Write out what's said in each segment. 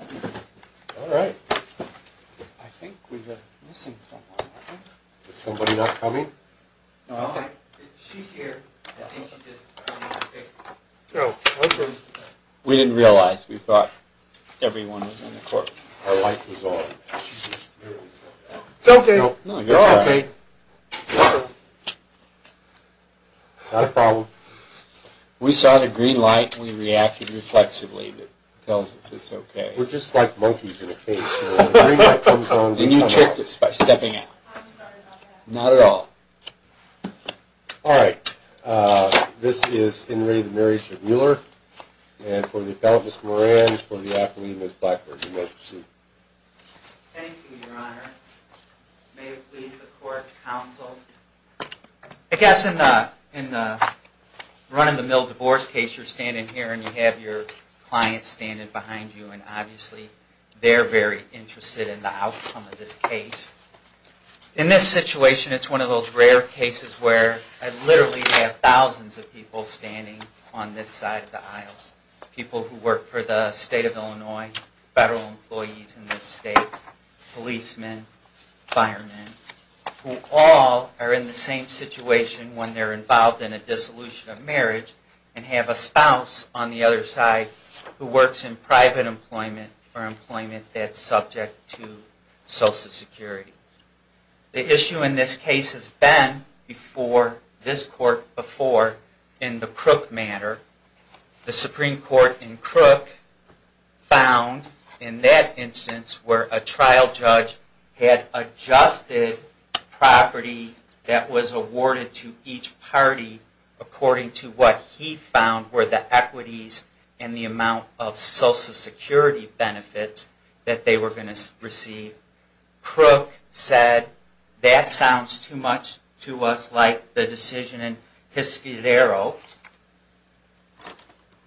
All right. I think we have missing someone. Is somebody not coming? No. She's here. No. We didn't realize. We thought everyone was in the courtroom. Our light was on. It's okay. No, you're all right. Not a problem. We saw the green light and we reacted reflexively. It tells us it's okay. We're just like monkeys in a cage. And you tricked us by stepping out. I'm sorry about that. Not at all. All right. This is in re the marriage of Mueller. And for the appellant, Ms. Moran. And for the athlete, Ms. Blackburn. You may proceed. Thank you, your honor. May it please the court, counsel. I guess in the run-of-the-mill divorce case, you're standing here and you have your client standing behind you. And obviously they're very interested in the outcome of this case. In this situation, it's one of those rare cases where I literally have thousands of people standing on this side of the aisle. People who work for the state of Illinois, federal employees in this state, policemen, firemen. Who all are in the same situation when they're involved in a dissolution of marriage. And have a spouse on the other side who works in private employment or employment that's subject to social security. The issue in this case has been before this court before in the Crook matter. The Supreme Court in Crook found in that instance where a trial judge had adjusted property that was awarded to each party. According to what he found were the equities and the amount of social security benefits that they were going to receive. Crook said that sounds too much to us like the decision in Hiscadero.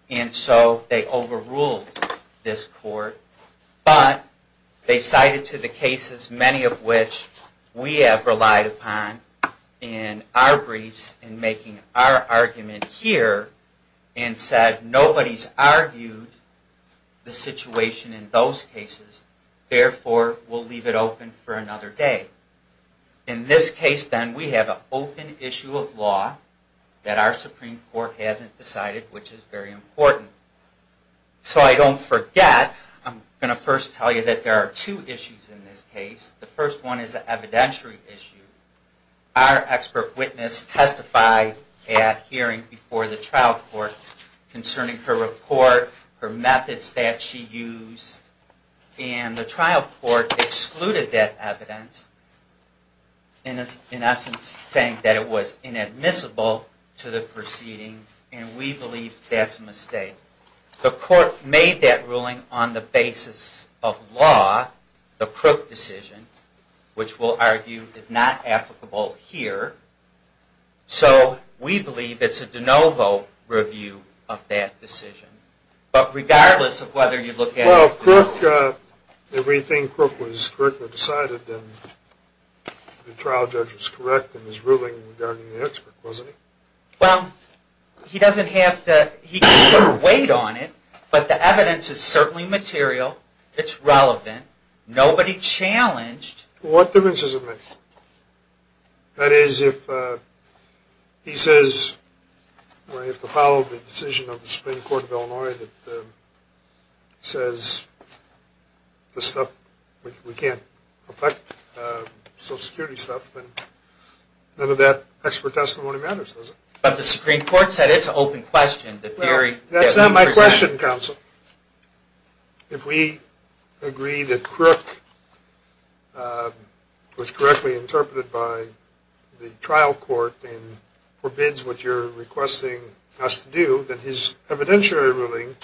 And so they overruled this court. But they cited to the cases, many of which we have relied upon in our briefs and making our argument here. And said nobody's argued the situation in those cases. Therefore, we'll leave it open for another day. In this case then, we have an open issue of law that our Supreme Court hasn't decided, which is very important. So I don't forget, I'm going to first tell you that there are two issues in this case. The first one is an evidentiary issue. Our expert witness testified at hearing before the trial court concerning her report, her methods that she used. And the trial court excluded that evidence in essence saying that it was inadmissible to the proceeding. And we believe that's a mistake. The court made that ruling on the basis of law, the Crook decision, which we'll argue is not applicable here. So we believe it's a de novo review of that decision. But regardless of whether you look at it. Well, if Crook, if we think Crook was correctly decided, then the trial judge was correct in his ruling regarding the expert, wasn't he? Well, he doesn't have to weight on it. But the evidence is certainly material. It's relevant. Nobody challenged. What difference does it make? That is, if he says we have to follow the decision of the Supreme Court of Illinois that says this stuff, we can't affect social security stuff. None of that expert testimony matters, does it? But the Supreme Court said it's an open question. That's not my question, counsel. If we agree that Crook was correctly interpreted by the trial court and forbids what you're requesting us to do, then his evidentiary ruling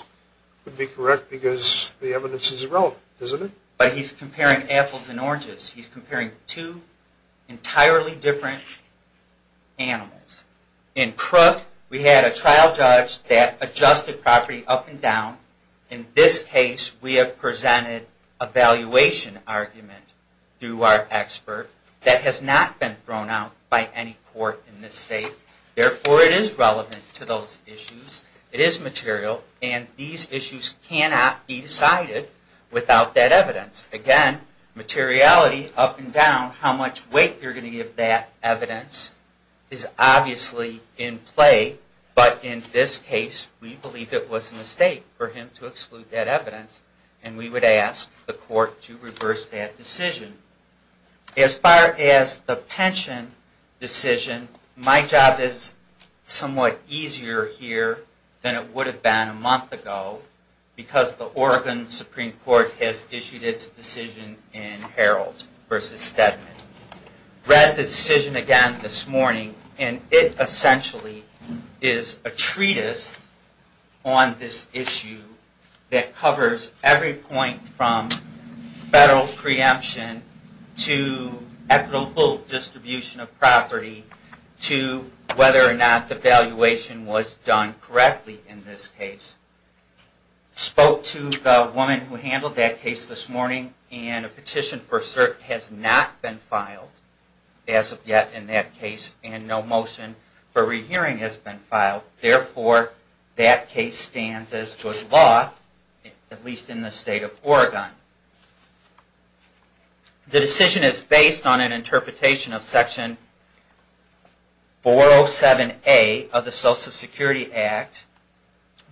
would be correct because the evidence is irrelevant, isn't it? But he's comparing apples and oranges. He's comparing two entirely different animals. In Crook, we had a trial judge that adjusted property up and down. In this case, we have presented a valuation argument through our expert that has not been thrown out by any court in this state. Therefore, it is relevant to those issues. It is material. And these issues cannot be decided without that evidence. Again, materiality, up and down, how much weight you're going to give that evidence is obviously in play. But in this case, we believe it was a mistake for him to exclude that evidence. And we would ask the court to reverse that decision. As far as the pension decision, my job is somewhat easier here than it would have been a month ago because the Oregon Supreme Court has issued its decision in Herald v. Steadman. Read the decision again this morning, and it essentially is a treatise on this issue that covers every point from federal preemption to equitable distribution of property to whether or not the valuation was done correctly in this case. I spoke to the woman who handled that case this morning, and a petition for cert has not been filed as of yet in that case, and no motion for rehearing has been filed. Therefore, that case stands as good law, at least in the state of Oregon. The decision is based on an interpretation of Section 407A of the Social Security Act,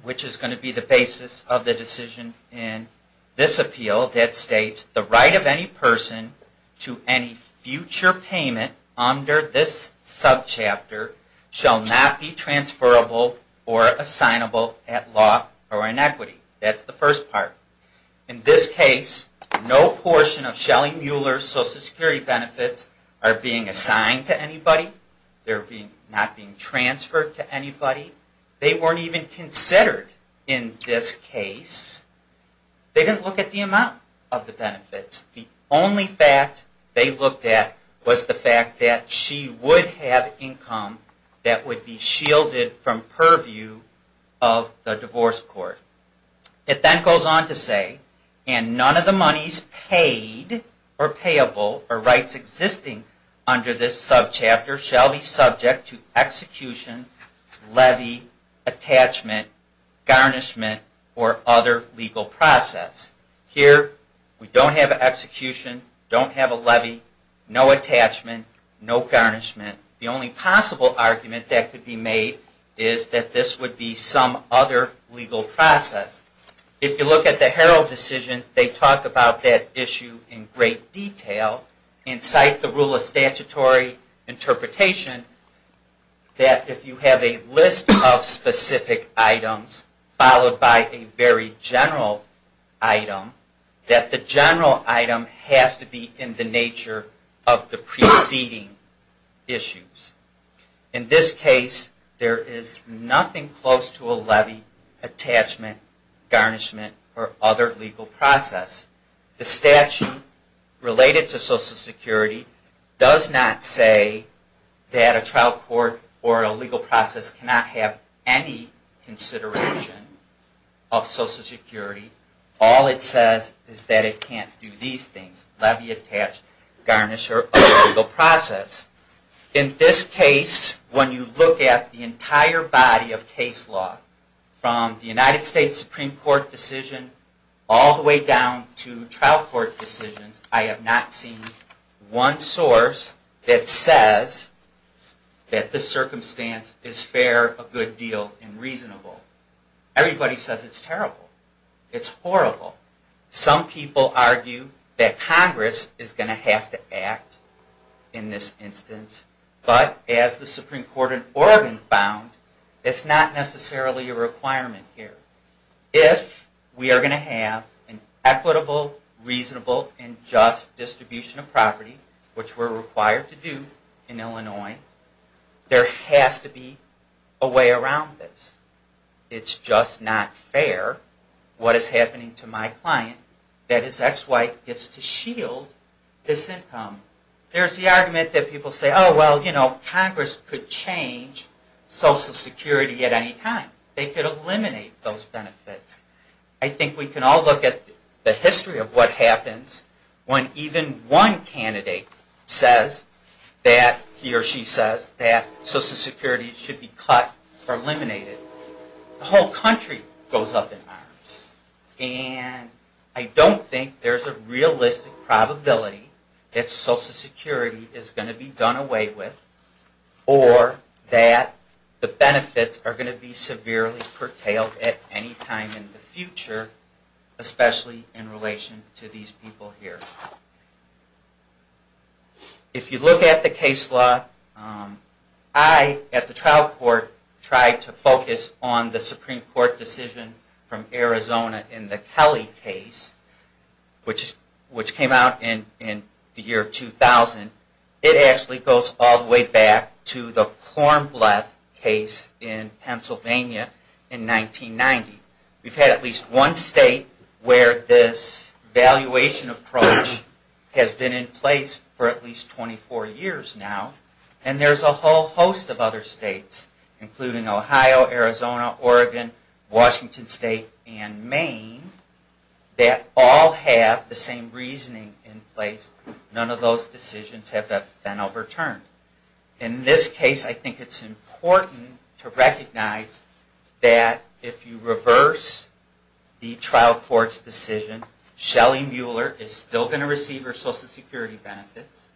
which is going to be the basis of the decision in this appeal that states, the right of any person to any future payment under this subchapter shall not be transferable or assignable at law or in equity. That's the first part. In this case, no portion of Shelly Mueller's Social Security benefits are being assigned to anybody. They're not being transferred to anybody. They weren't even considered in this case. They didn't look at the amount of the benefits. The only fact they looked at was the fact that she would have income that would be shielded from purview of the divorce court. It then goes on to say, and none of the monies paid or payable or rights existing under this subchapter shall be subject to execution, levy, attachment, garnishment, or other legal process. Here, we don't have an execution, don't have a levy, no attachment, no garnishment. The only possible argument that could be made is that this would be some other legal process. If you look at the Herald decision, they talk about that issue in great detail and cite the rule of statutory interpretation that if you have a list of specific items followed by a very general item, that the general item has to be in the nature of the preceding issues. In this case, there is nothing close to a levy, attachment, garnishment, or other legal process. The statute related to Social Security does not say that a trial court or a legal process cannot have any consideration of Social Security. All it says is that it can't do these things, levy, attachment, garnishment, or other legal process. In this case, when you look at the entire body of case law, from the United States Supreme Court decision all the way down to trial court decisions, I have not seen one source that says that this circumstance is fair, a good deal, and reasonable. Everybody says it's terrible. It's horrible. Some people argue that Congress is going to have to act in this instance, but as the Supreme Court in Oregon found, it's not necessarily a requirement here. If we are going to have an equitable, reasonable, and just distribution of property, which we are required to do in Illinois, there has to be a way around this. It's just not fair, what is happening to my client, that his ex-wife gets to shield this income. There's the argument that people say, well, Congress could change Social Security at any time. They could eliminate those benefits. I think we can all look at the history of what happens when even one candidate says that he or she says that Social Security should be cut or eliminated. The whole country goes up in arms. And I don't think there's a realistic probability that Social Security is going to be done away with, or that the benefits are going to be severely curtailed at any time in the future, especially in relation to these people here. If you look at the case law, I, at the trial court, tried to focus on the Supreme Court decision from Arizona in the Kelly case, which came out in the year 2000. It actually goes all the way back to the Kornbleth case in Pennsylvania in 1990. We've had at least one state where this valuation approach has been in place for at least 24 years now. And there's a whole host of other states, including Ohio, Arizona, Oregon, Washington State, and Maine, that all have the same reasoning in place. None of those decisions have been overturned. In this case, I think it's important to recognize that if you reverse the trial court's decision, Shelly Mueller is still going to receive her Social Security benefits.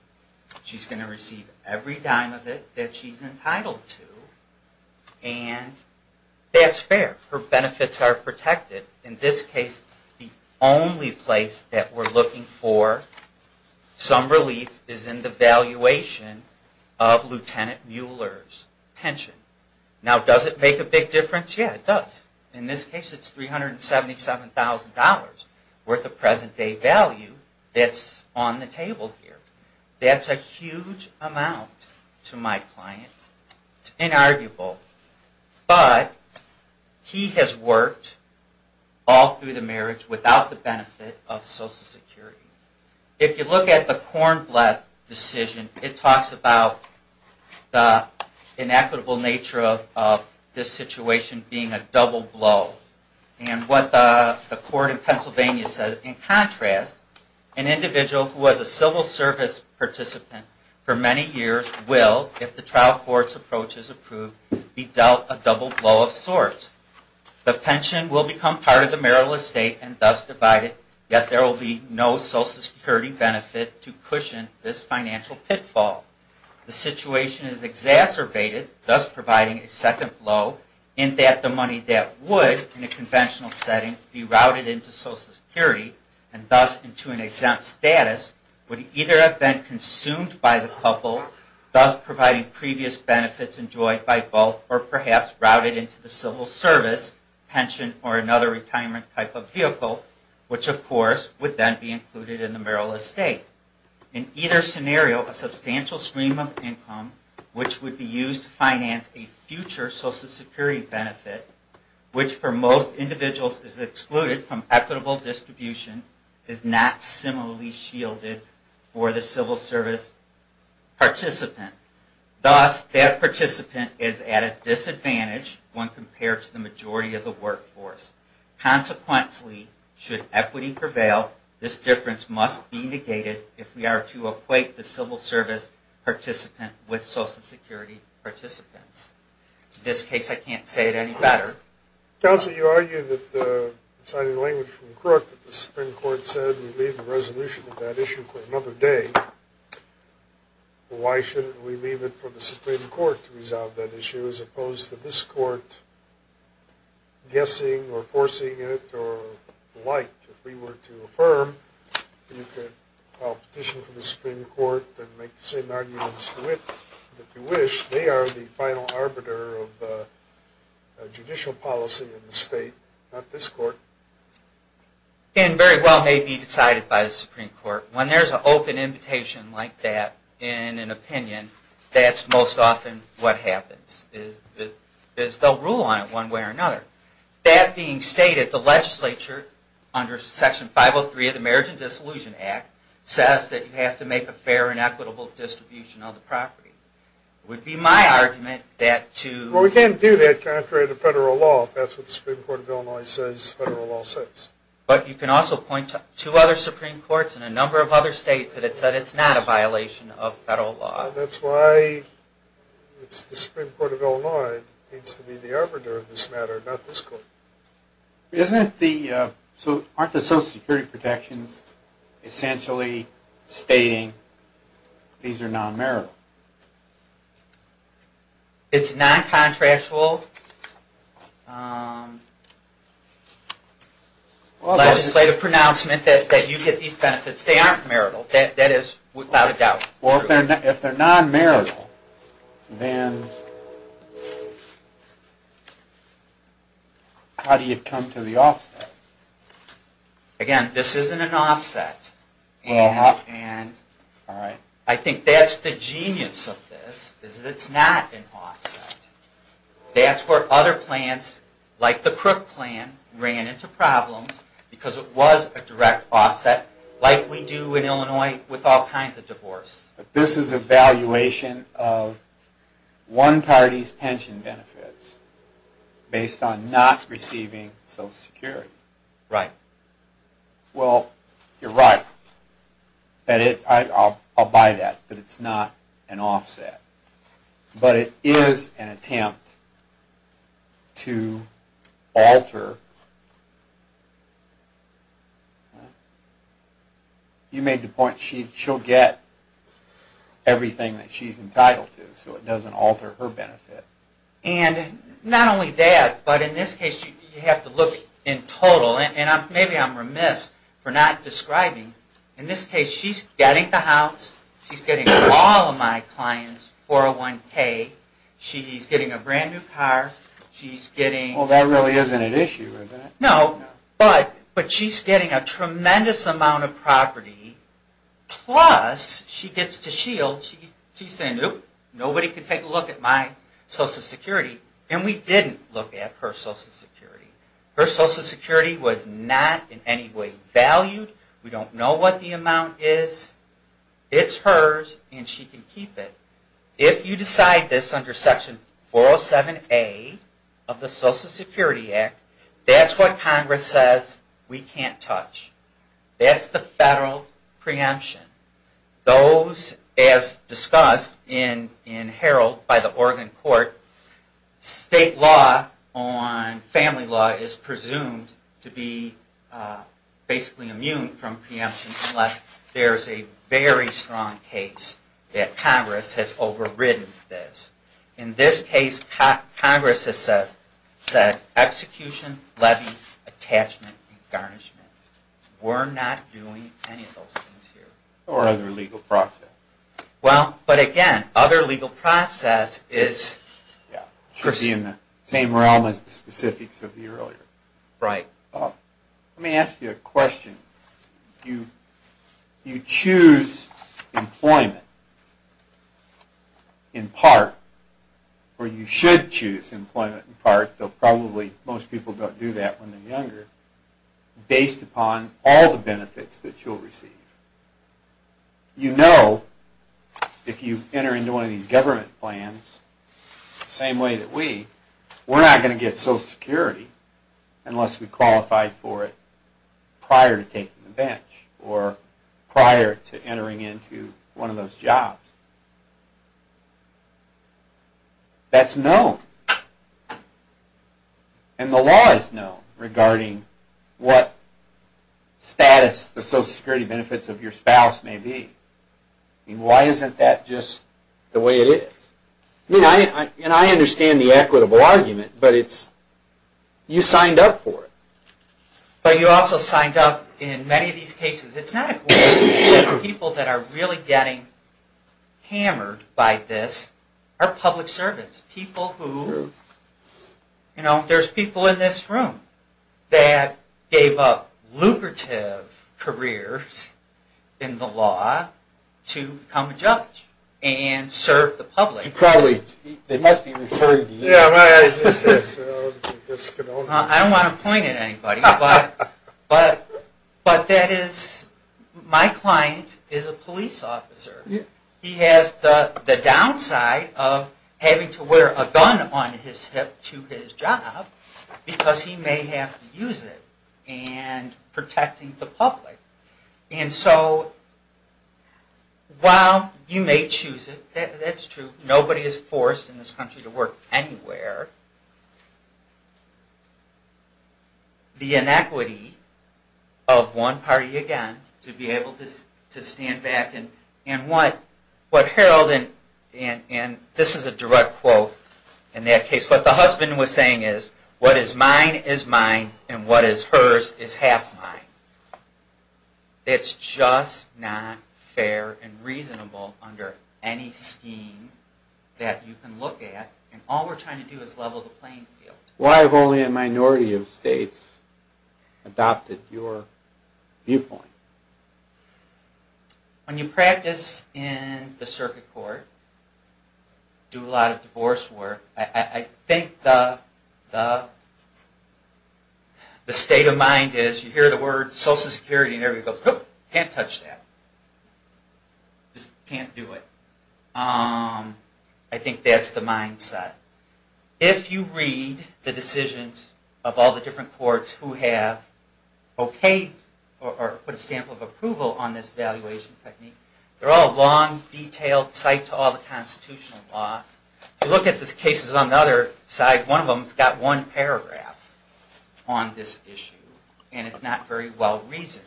She's going to receive every dime of it that she's entitled to, and that's fair. Her benefits are protected. In this case, the only place that we're looking for some relief is in the valuation of Lt. Mueller's pension. Now, does it make a big difference? Yeah, it does. In this case, it's $377,000 worth of present-day value that's on the table here. That's a huge amount to my client. It's inarguable. But he has worked all through the marriage without the benefit of Social Security. If you look at the Kornbleth decision, it talks about the inequitable nature of this situation being a double blow. And what the court in Pennsylvania said, in contrast, an individual who was a civil service participant for many years will, if the trial court's approach is approved, be dealt a double blow of sorts. The pension will become part of the marital estate and thus divided, yet there will be no Social Security benefit to cushion this financial pitfall. The situation is exacerbated, thus providing a second blow, in that the money that would, in a conventional setting, be routed into Social Security, and thus into an exempt status, would either have been consumed by the couple, thus providing previous benefits enjoyed by both, or perhaps routed into the civil service pension or another retirement type of vehicle, which of course would then be included in the marital estate. In either scenario, a substantial stream of income, which would be used to finance a future Social Security benefit, which for most individuals is excluded from equitable distribution, is not similarly shielded for the civil service participant. Thus, that participant is at a disadvantage when compared to the majority of the workforce. Consequently, should equity prevail, this difference must be negated if we are to equate the civil service participant with Social Security participants. In this case, I can't say it any better. Counsel, you argue that, citing language from the court, that the Supreme Court said we leave the resolution of that issue for another day. Why shouldn't we leave it for the Supreme Court to resolve that issue, as opposed to this court guessing or foreseeing it or the like? If we were to affirm, you could file a petition for the Supreme Court and make the same arguments that you wish. They are the final arbiter of judicial policy in the state, not this court. It very well may be decided by the Supreme Court. When there's an open invitation like that in an opinion, that's most often what happens, is they'll rule on it one way or another. That being stated, the legislature, under Section 503 of the Marriage and Disillusion Act, says that you have to make a fair and equitable distribution of the property. It would be my argument that to... Well, we can't do that contrary to federal law, if that's what the Supreme Court of Illinois says federal law says. But you can also point to other Supreme Courts in a number of other states that have said it's not a violation of federal law. That's why the Supreme Court of Illinois needs to be the arbiter of this matter, not this court. Aren't the Social Security protections essentially stating these are non-marital? It's non-contractual legislative pronouncement that you get these benefits. They aren't marital. That is without a doubt true. If they're non-marital, then how do you come to the offset? Again, this isn't an offset. I think that's the genius of this, is that it's not an offset. That's where other plans, like the Crook plan, ran into problems, because it was a direct offset, like we do in Illinois with all kinds of divorce. This is a valuation of one party's pension benefits based on not receiving Social Security. Right. Well, you're right. I'll buy that, that it's not an offset. But it is an attempt to alter. You made the point she'll get everything that she's entitled to, so it doesn't alter her benefit. And not only that, but in this case you have to look in total, and maybe I'm remiss for not describing, in this case she's getting the house, she's getting all of my clients 401K, she's getting a brand new car, she's getting... Well, that really isn't an issue, is it? No, but she's getting a tremendous amount of property, plus she gets to shield. She's saying, nope, nobody can take a look at my Social Security. And we didn't look at her Social Security. Her Social Security was not in any way valued. We don't know what the amount is. It's hers and she can keep it. If you decide this under Section 407A of the Social Security Act, that's what Congress says we can't touch. That's the federal preemption. Those, as discussed in Herald by the Oregon Court, state law on family law is presumed to be basically immune from preemption unless there's a very strong case that Congress has overridden this. In this case, Congress has said that execution, levy, attachment, and garnishment. We're not doing any of those things here. Or other legal process. Well, but again, other legal process is... Should be in the same realm as the specifics of the earlier. Right. Let me ask you a question. You choose employment in part, or you should choose employment in part, though probably most people don't do that when they're younger, based upon all the benefits that you'll receive. You know if you enter into one of these government plans, the same way that we, we're not going to get Social Security unless we qualified for it prior to taking the bench or prior to entering into one of those jobs. That's known. And the law is known regarding what status the Social Security benefits of your spouse may be. Why isn't that just the way it is? And I understand the equitable argument, but it's... You signed up for it. But you also signed up in many of these cases. It's not... People that are really getting hammered by this are public servants. People who... You know, there's people in this room that gave up lucrative careers in the law to become a judge and serve the public. You probably... They must be referring to you. I don't want to point at anybody, but that is... My client is a police officer. He has the downside of having to wear a gun on his hip to his job because he may have to use it in protecting the public. And so while you may choose it, that's true, nobody is forced in this country to work anywhere. The inequity of one party, again, to be able to stand back and... And what Harold... And this is a direct quote in that case. What the husband was saying is, what is mine is mine and what is hers is half mine. It's just not fair and reasonable under any scheme that you can look at. And all we're trying to do is level the playing field. Why have only a minority of states adopted your viewpoint? When you practice in the circuit court, do a lot of divorce work, I think the state of mind is, you hear the word social security and everybody goes, nope, can't touch that. Just can't do it. I think that's the mindset. If you read the decisions of all the different courts who have put a sample of approval on this evaluation technique, they're all long, detailed, psyched to all the constitutional law. If you look at the cases on the other side, one of them has got one paragraph on this issue and it's not very well reasoned.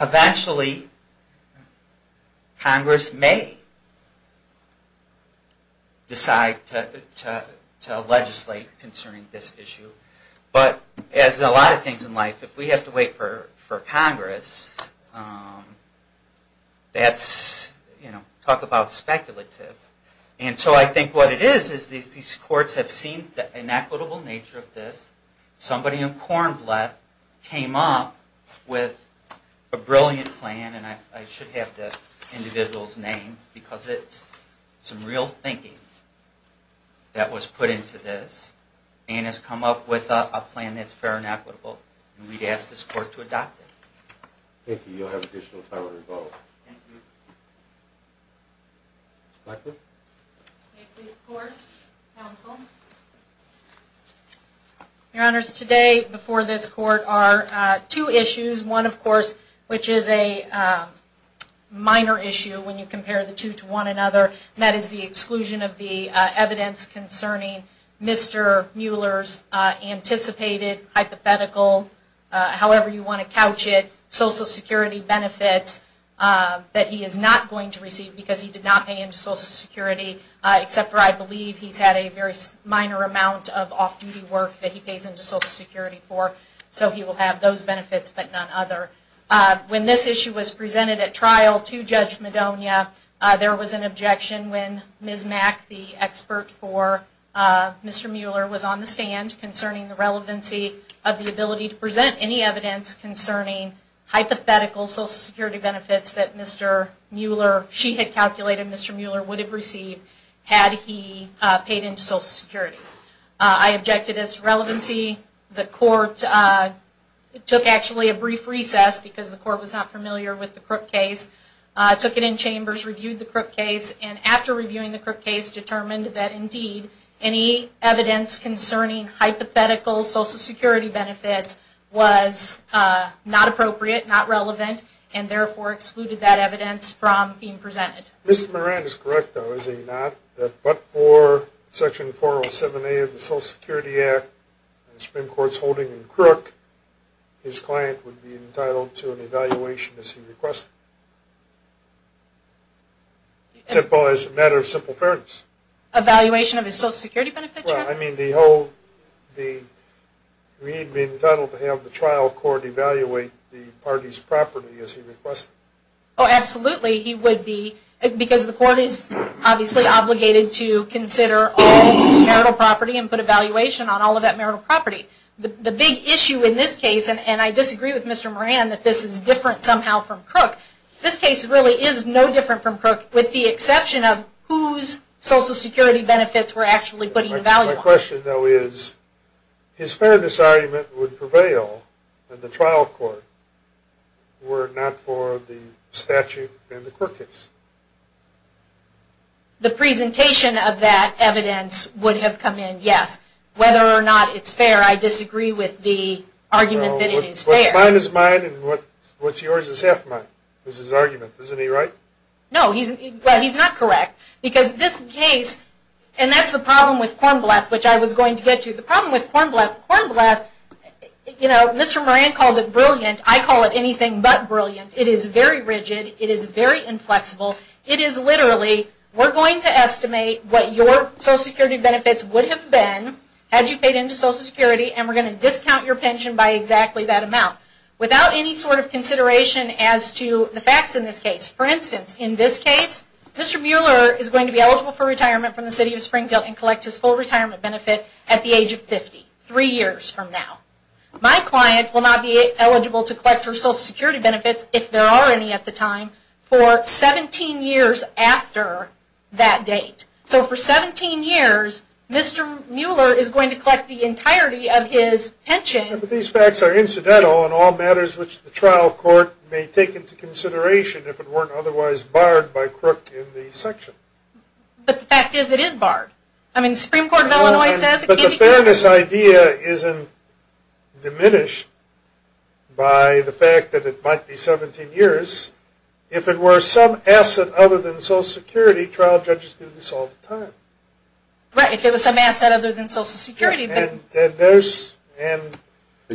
Eventually, Congress may decide to legislate concerning this issue. But as a lot of things in life, if we have to wait for Congress, that's, you know, talk about speculative. And so I think what it is, is these courts have seen the inequitable nature of this. Somebody in Cornbleth came up with a brilliant plan, and I should have the individual's name, because it's some real thinking that was put into this, and has come up with a plan that's fair and equitable, and we'd ask this court to adopt it. Thank you. You'll have additional time to rebuttal. Thank you. Blackburn? May it please the Court, Counsel. Your Honors, today, before this Court, are two issues. One, of course, which is a minor issue when you compare the two to one another, and that is the exclusion of the evidence concerning Mr. Mueller's anticipated hypothetical, however you want to couch it, social security benefits that he is not going to receive, because he did not pay into social security, except for, I believe, he's had a very minor amount of off-duty work that he pays into social security for. So he will have those benefits, but none other. When this issue was presented at trial to Judge Madonia, there was an objection when Ms. Mack, the expert for Mr. Mueller, was on the stand concerning the relevancy of the ability to present any evidence concerning hypothetical social security benefits that she had calculated Mr. Mueller would have received had he paid into social security. I objected as to relevancy. The Court took, actually, a brief recess, because the Court was not familiar with the Crook case, took it in chambers, reviewed the Crook case, and after reviewing the Crook case, determined that, indeed, any evidence concerning hypothetical social security benefits was not appropriate, not relevant, and therefore excluded that evidence from being presented. Ms. Moran is correct, though, is he not, that but for Section 407A of the Social Security Act, the Supreme Court's holding in Crook, his client would be entitled to an evaluation as he requested. Simple as a matter of simple fairness. Evaluation of his social security benefits, sir? Well, I mean, the whole... He'd be entitled to have the trial court evaluate the party's property as he requested. Oh, absolutely, he would be, because the Court is obviously obligated to consider all marital property and put evaluation on all of that marital property. The big issue in this case, and I disagree with Mr. Moran that this is different somehow from Crook. This case really is no different from Crook, with the exception of whose social security benefits we're actually putting value on. My question, though, is, is fairness argument would prevail in the trial court were it not for the statute in the Crook case? The presentation of that evidence would have come in, yes. Whether or not it's fair, I disagree with the argument that it is fair. Well, what's mine is mine, and what's yours is half mine, is his argument, isn't he right? No, he's not correct, because this case, and that's the problem with Kornblath, which I was going to get to. The problem with Kornblath, Kornblath, you know, Mr. Moran calls it brilliant. I call it anything but brilliant. It is very rigid. It is very inflexible. It is literally, we're going to estimate what your social security benefits would have been had you paid into social security, and we're going to discount your pension by exactly that amount without any sort of consideration as to the facts in this case. For instance, in this case, Mr. Mueller is going to be eligible for retirement from the city of Springfield and collect his full retirement benefit at the age of 50, three years from now. My client will not be eligible to collect her social security benefits, if there are any at the time, for 17 years after that date. So for 17 years, Mr. Mueller is going to collect the entirety of his pension. But these facts are incidental in all matters which the trial court may take into consideration if it weren't otherwise barred by Crook in the section. But the fact is, it is barred. I mean, the Supreme Court of Illinois says it can be barred. But the fairness idea isn't diminished by the fact that it might be 17 years. If it were some asset other than social security, trial judges do this all the time. Right, if it was some asset other than social security. But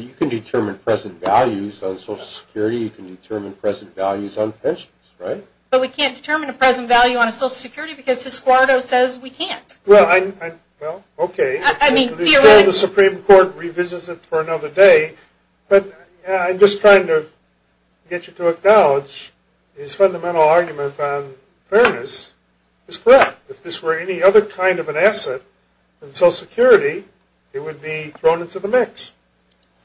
you can determine present values on social security. You can determine present values on pensions, right? But we can't determine a present value on social security because his squadro says we can't. Well, okay. The Supreme Court revisits it for another day. But I'm just trying to get you to acknowledge his fundamental argument on fairness is correct. If this were any other kind of an asset than social security, it would be thrown into the mix.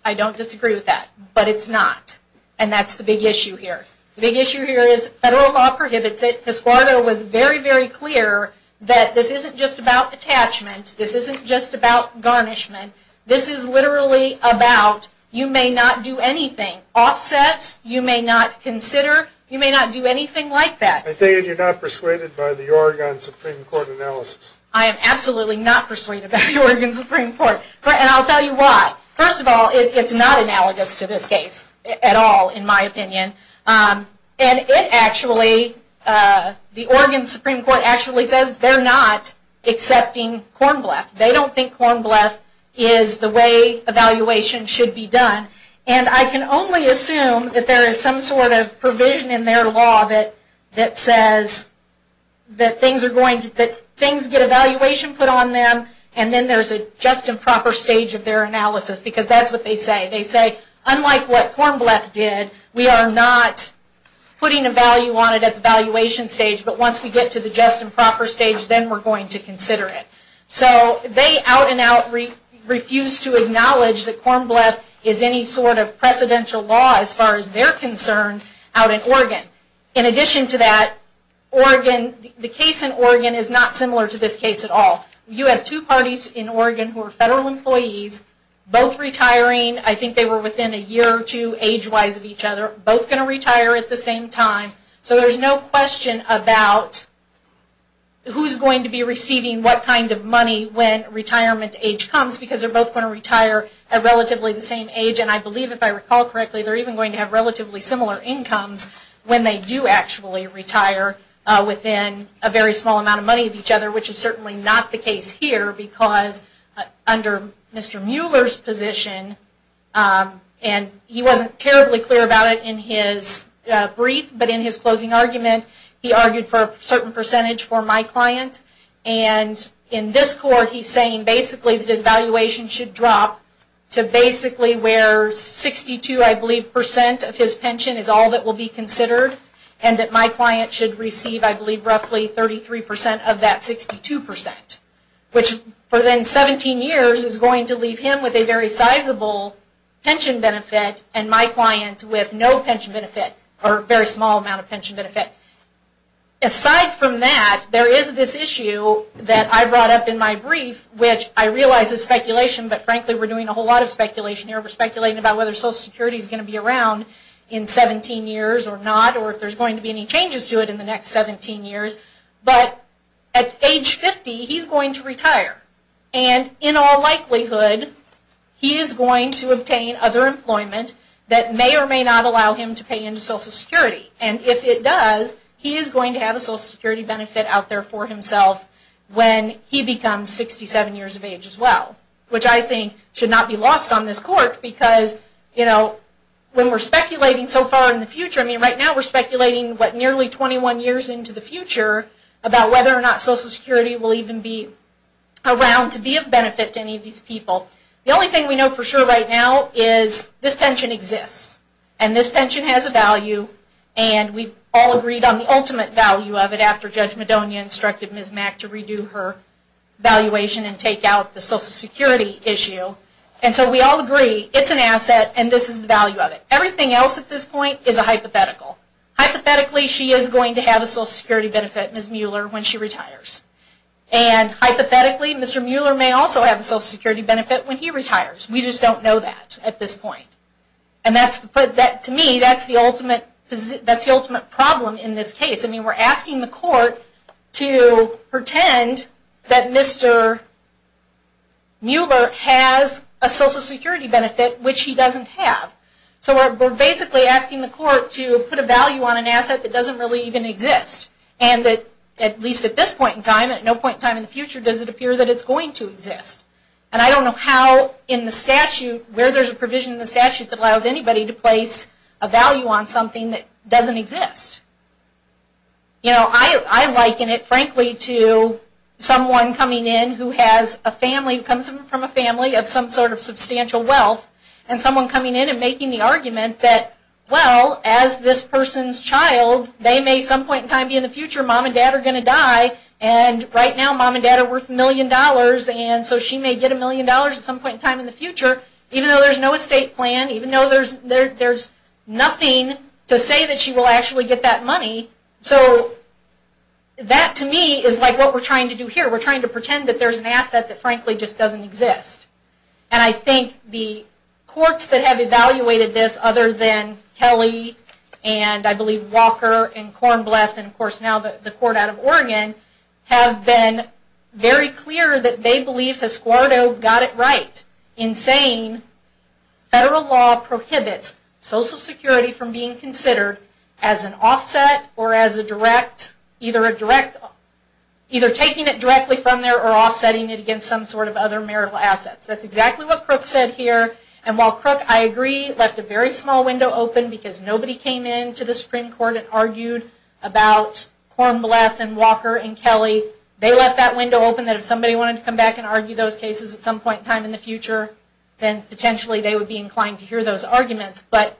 I don't disagree with that, but it's not. And that's the big issue here. The big issue here is federal law prohibits it. His squadro was very, very clear that this isn't just about attachment. This isn't just about garnishment. This is literally about you may not do anything. Offsets, you may not consider. You may not do anything like that. I take it you're not persuaded by the Oregon Supreme Court analysis. I am absolutely not persuaded by the Oregon Supreme Court. And I'll tell you why. First of all, it's not analogous to this case at all, in my opinion. And it actually, the Oregon Supreme Court actually says they're not accepting corn bluff. They don't think corn bluff is the way evaluation should be done. And I can only assume that there is some sort of provision in their law that says that things get evaluation put on them and then there's a just and proper stage of their analysis because that's what they say. They say, unlike what corn bluff did, we are not putting a value on it at the valuation stage, but once we get to the just and proper stage, then we're going to consider it. So they out and out refuse to acknowledge that corn bluff is any sort of precedential law as far as they're concerned out in Oregon. In addition to that, the case in Oregon is not similar to this case at all. You have two parties in Oregon who are federal employees, both retiring, I think they were within a year or two age-wise of each other, both going to retire at the same time. So there's no question about who's going to be receiving what kind of money when retirement age comes because they're both going to retire at relatively the same age. And I believe, if I recall correctly, they're even going to have relatively similar incomes when they do actually retire within a very small amount of money of each other, which is certainly not the case here because under Mr. Mueller's position, and he wasn't terribly clear about it in his brief, but in his closing argument, he argued for a certain percentage for my client. And in this court, he's saying basically that his valuation should drop to basically where 62, I believe, percent of his pension is all that will be of that 62 percent, which for then 17 years is going to leave him with a very sizable pension benefit and my client with no pension benefit or very small amount of pension benefit. Aside from that, there is this issue that I brought up in my brief, which I realize is speculation, but frankly we're doing a whole lot of speculation here. We're speculating about whether Social Security is going to be around in 17 years or not, or if there's going to be any changes to it in the next 17 years. But at age 50, he's going to retire. And in all likelihood, he is going to obtain other employment that may or may not allow him to pay into Social Security. And if it does, he is going to have a Social Security benefit out there for himself when he becomes 67 years of age as well, which I think should not be lost on this court because, you know, when we're speculating so far in the future, I mean, right now we're trying to figure out whether or not Social Security will even be around to be of benefit to any of these people. The only thing we know for sure right now is this pension exists and this pension has a value and we've all agreed on the ultimate value of it after Judge Madonia instructed Ms. Mack to redo her valuation and take out the Social Security issue. And so we all agree it's an asset and this is the value of it. Everything else at this point is a hypothetical. Hypothetically, she is going to have a Social Security benefit, Ms. Mueller, when she retires. And hypothetically, Mr. Mueller may also have a Social Security benefit when he retires. We just don't know that at this point. And to me, that's the ultimate problem in this case. I mean, we're asking the court to pretend that Mr. Mueller has a Social Security benefit which he doesn't have. So we're basically asking the court to put a value on an asset that doesn't really even exist. And at least at this point in time, at no point in time in the future, does it appear that it's going to exist. And I don't know how in the statute, where there's a provision in the statute that allows anybody to place a value on something that doesn't exist. You know, I liken it, frankly, to someone coming in who has a family, comes from a family of some sort of substantial wealth, and someone coming in and making the argument that, well, as this person's child, they may some point in time be in the future, mom and dad are going to die, and right now mom and dad are worth a million dollars, and so she may get a million dollars at some point in time in the future, even though there's no estate plan, even though there's nothing to say that she will actually get that money. So that, to me, is like what we're trying to do here. We're trying to pretend that there's an asset that, frankly, just doesn't exist. And I think the courts that have evaluated this, other than Kelly, and I believe Walker, and Kornbleth, and of course now the court out of Oregon, have been very clear that they believe Escuardo got it right in saying federal law prohibits Social Security from being considered as an offset or as a direct, either a direct, either taking it directly from there or offsetting it against some sort of other marital assets. That's exactly what Crook said here, and while Crook, I agree, left a very small window open because nobody came into the Supreme Court and argued about Kornbleth and Walker and Kelly. They left that window open that if somebody wanted to come back and argue those cases at some point in time in the future, then potentially they would be inclined to hear those arguments. But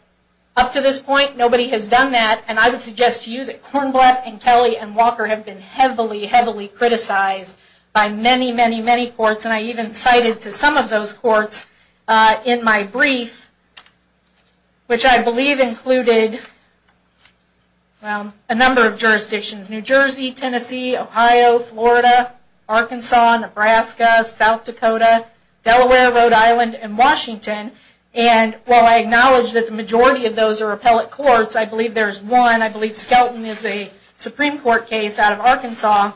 up to this point, nobody has done that, and I would suggest to you that Kornbleth and Kelly and Walker have been heavily, heavily criticized by many, many, many courts, and I even cited to some of those courts in my brief, which I believe included a number of jurisdictions, New Jersey, Tennessee, Ohio, Florida, Arkansas, Nebraska, South Dakota, Delaware, Rhode Island, and Washington. And while I acknowledge that the majority of those are appellate courts, I believe there's one, I believe Skelton is a Supreme Court case out of Arkansas,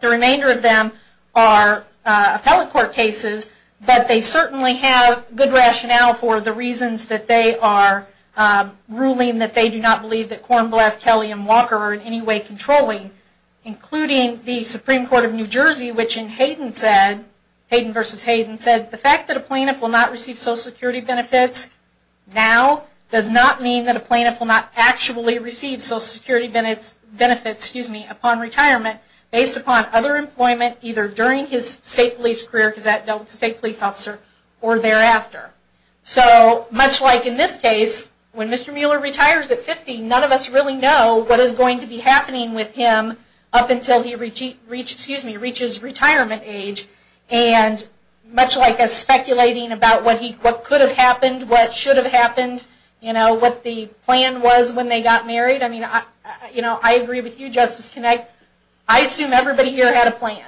the remainder of them are appellate court cases, but they certainly have good rationale for the reasons that they are ruling that they do not believe that Kornbleth, Kelly, and Walker are in any way controlling, including the Supreme Court of New Jersey, which in Hayden said, Hayden v. Hayden said, the fact that a plaintiff will not receive Social Security benefits now does not mean that a plaintiff will not actually receive Social Security benefits upon retirement based upon other employment, either during his state police career, because that dealt with the state police officer, or thereafter. So, much like in this case, when Mr. Mueller retires at 50, none of us really know what is going to be happening with him up until he reaches retirement age, and much like us speculating about what could have happened, what should have happened, what the plan was when they got married, I mean, I agree with you Justice Kinnick, I assume everybody here had a plan.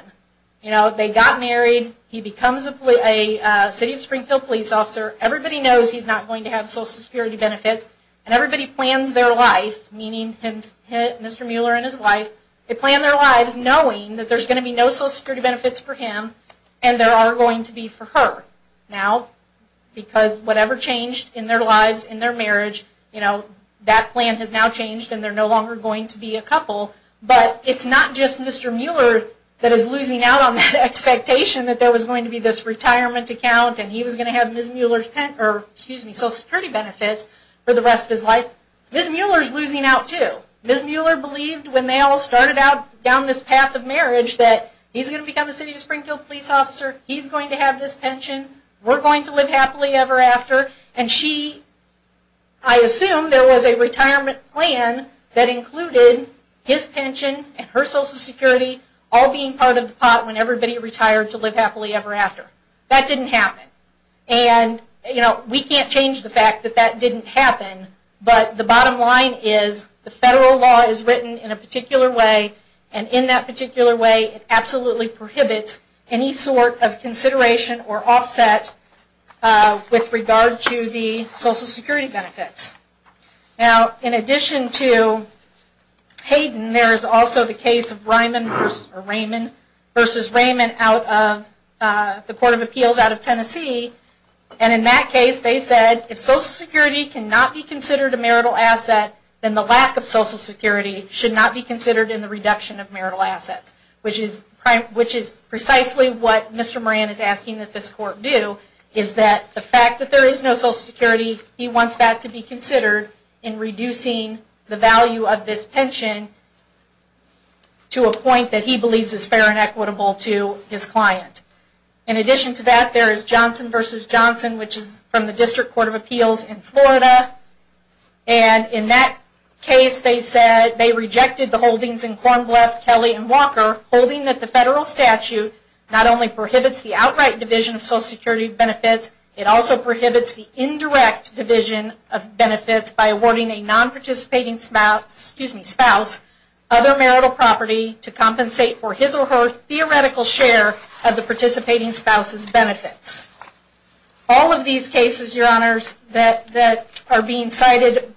They got married, he becomes a City of Springfield police officer, everybody knows he's not going to have Social Security benefits, and everybody plans their life, meaning Mr. Mueller and his wife, they plan their lives knowing that there's going to be no Social Security benefits for him, and there are going to be for her. Now, because whatever changed in their lives, in their marriage, that plan has now changed, and they're no longer going to be a couple, but it's not just Mr. Mueller that is losing out on that expectation that there was going to be this retirement account, and he was going to have Social Security benefits for the rest of his life. Ms. Mueller's losing out too. Ms. Mueller believed when they all started out down this path of marriage, that he's going to become a City of Springfield police officer, he's going to have this pension, we're going to live happily ever after, and she, I assume there was a retirement plan that included his pension and her Social Security all being part of the pot when everybody retired to live happily ever after. That didn't happen. And, you know, we can't change the fact that that didn't happen, but the bottom line is the federal law is written in a particular way, and in that particular way it absolutely prohibits any sort of consideration or offset with regard to the Social Security benefits. Now, in addition to Hayden, there is also the case of Raymond versus Raymond out of the Court of Appeals out of Tennessee, and in that case they said if Social Security cannot be considered a marital asset, then the lack of Social Security should not be considered in the reduction of marital assets, which is precisely what Mr. Moran is asking that this Court do, is that the fact that there is no Social Security, he wants that to be considered in reducing the value of this pension to a point that he believes is fair and equitable to his client. In addition to that, there is Johnson versus Johnson, which is from the District Court of Appeals in Florida, and in that case they said they rejected the holdings in Kornbleth, Kelly, and Walker, holding that the federal statute not only prohibits the outright division of Social Security benefits, it also prohibits the indirect division of benefits by awarding a non-participating spouse other marital property to compensate for his or her theoretical share of the participating spouse's benefits. All of these cases, Your Honors, that are being cited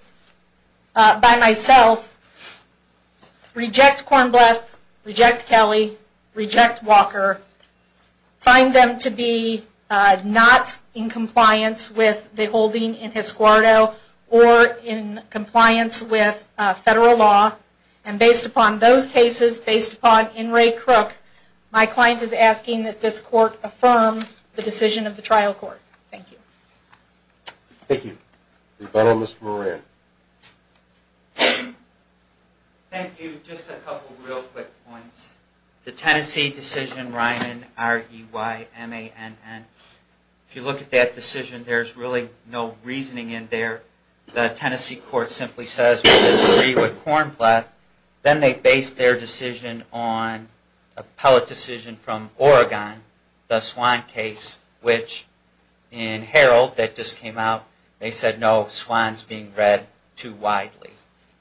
by myself, reject Kornbleth, reject Kelly, reject Walker, find them to be not in compliance with the holding in Hisquarto, or in compliance with federal law, and based upon those cases, based upon N. Ray Crook, my client is asking that this court affirm the decision of the trial court. Thank you. Thank you. Rebuttal, Mr. Moran. Thank you. Just a couple of real quick points. The Tennessee decision, Ryman, R-E-Y-M-A-N-N, if you look at that decision, there is really no reasoning in there. The Tennessee court simply says we disagree with Kornbleth, then they base their decision on a pellet decision from Oregon, the Swann case, which in Herald that just came out, they said no, Swann is being read too widely.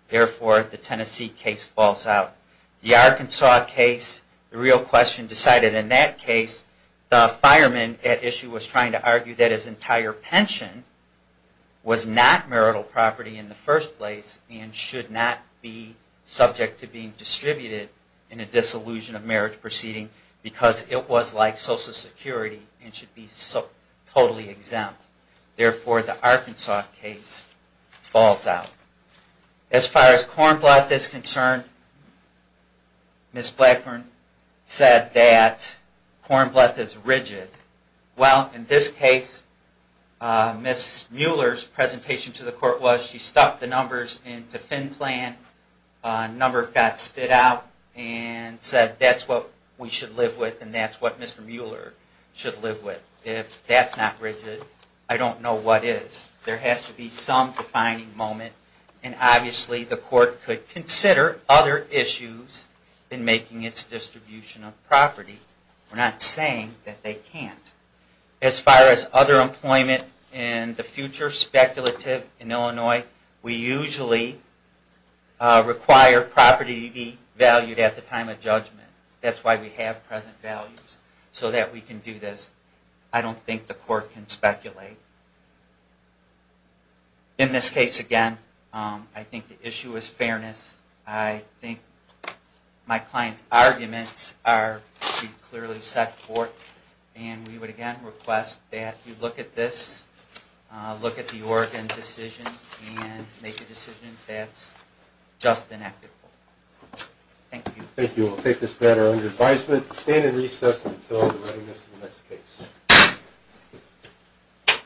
Therefore, the Tennessee case falls out. The Arkansas case, the real question decided in that case, the fireman at issue was trying to argue that his entire pension was not marital property in the first place and should not be subject to being distributed in a dissolution of marriage proceeding, because it was like Social Security and should be totally exempt. Therefore, the Arkansas case falls out. As far as Kornbleth is concerned, Ms. Blackburn said that Kornbleth is rigid. Well, in this case, Ms. Mueller's presentation to the court was she stuffed the numbers into FinPlan, a number got spit out, and said that's what we should live with and that's what Mr. Mueller should live with. If that's not rigid, I don't know what is. There has to be some defining moment, and obviously the court could consider other issues in making its distribution of property. We're not saying that they can't. As far as other employment in the future, speculative in Illinois, we usually require property to be valued at the time of judgment. That's why we have present values, so that we can do this. I don't think the court can speculate. In this case, again, I think the issue is fairness. I think my client's arguments are clearly set forth, and we would again request that you look at this, look at the Oregon decision, and make a decision that's just and equitable. Thank you. Thank you. We'll take this matter under advisement. Stand in recess until the readiness of the next case.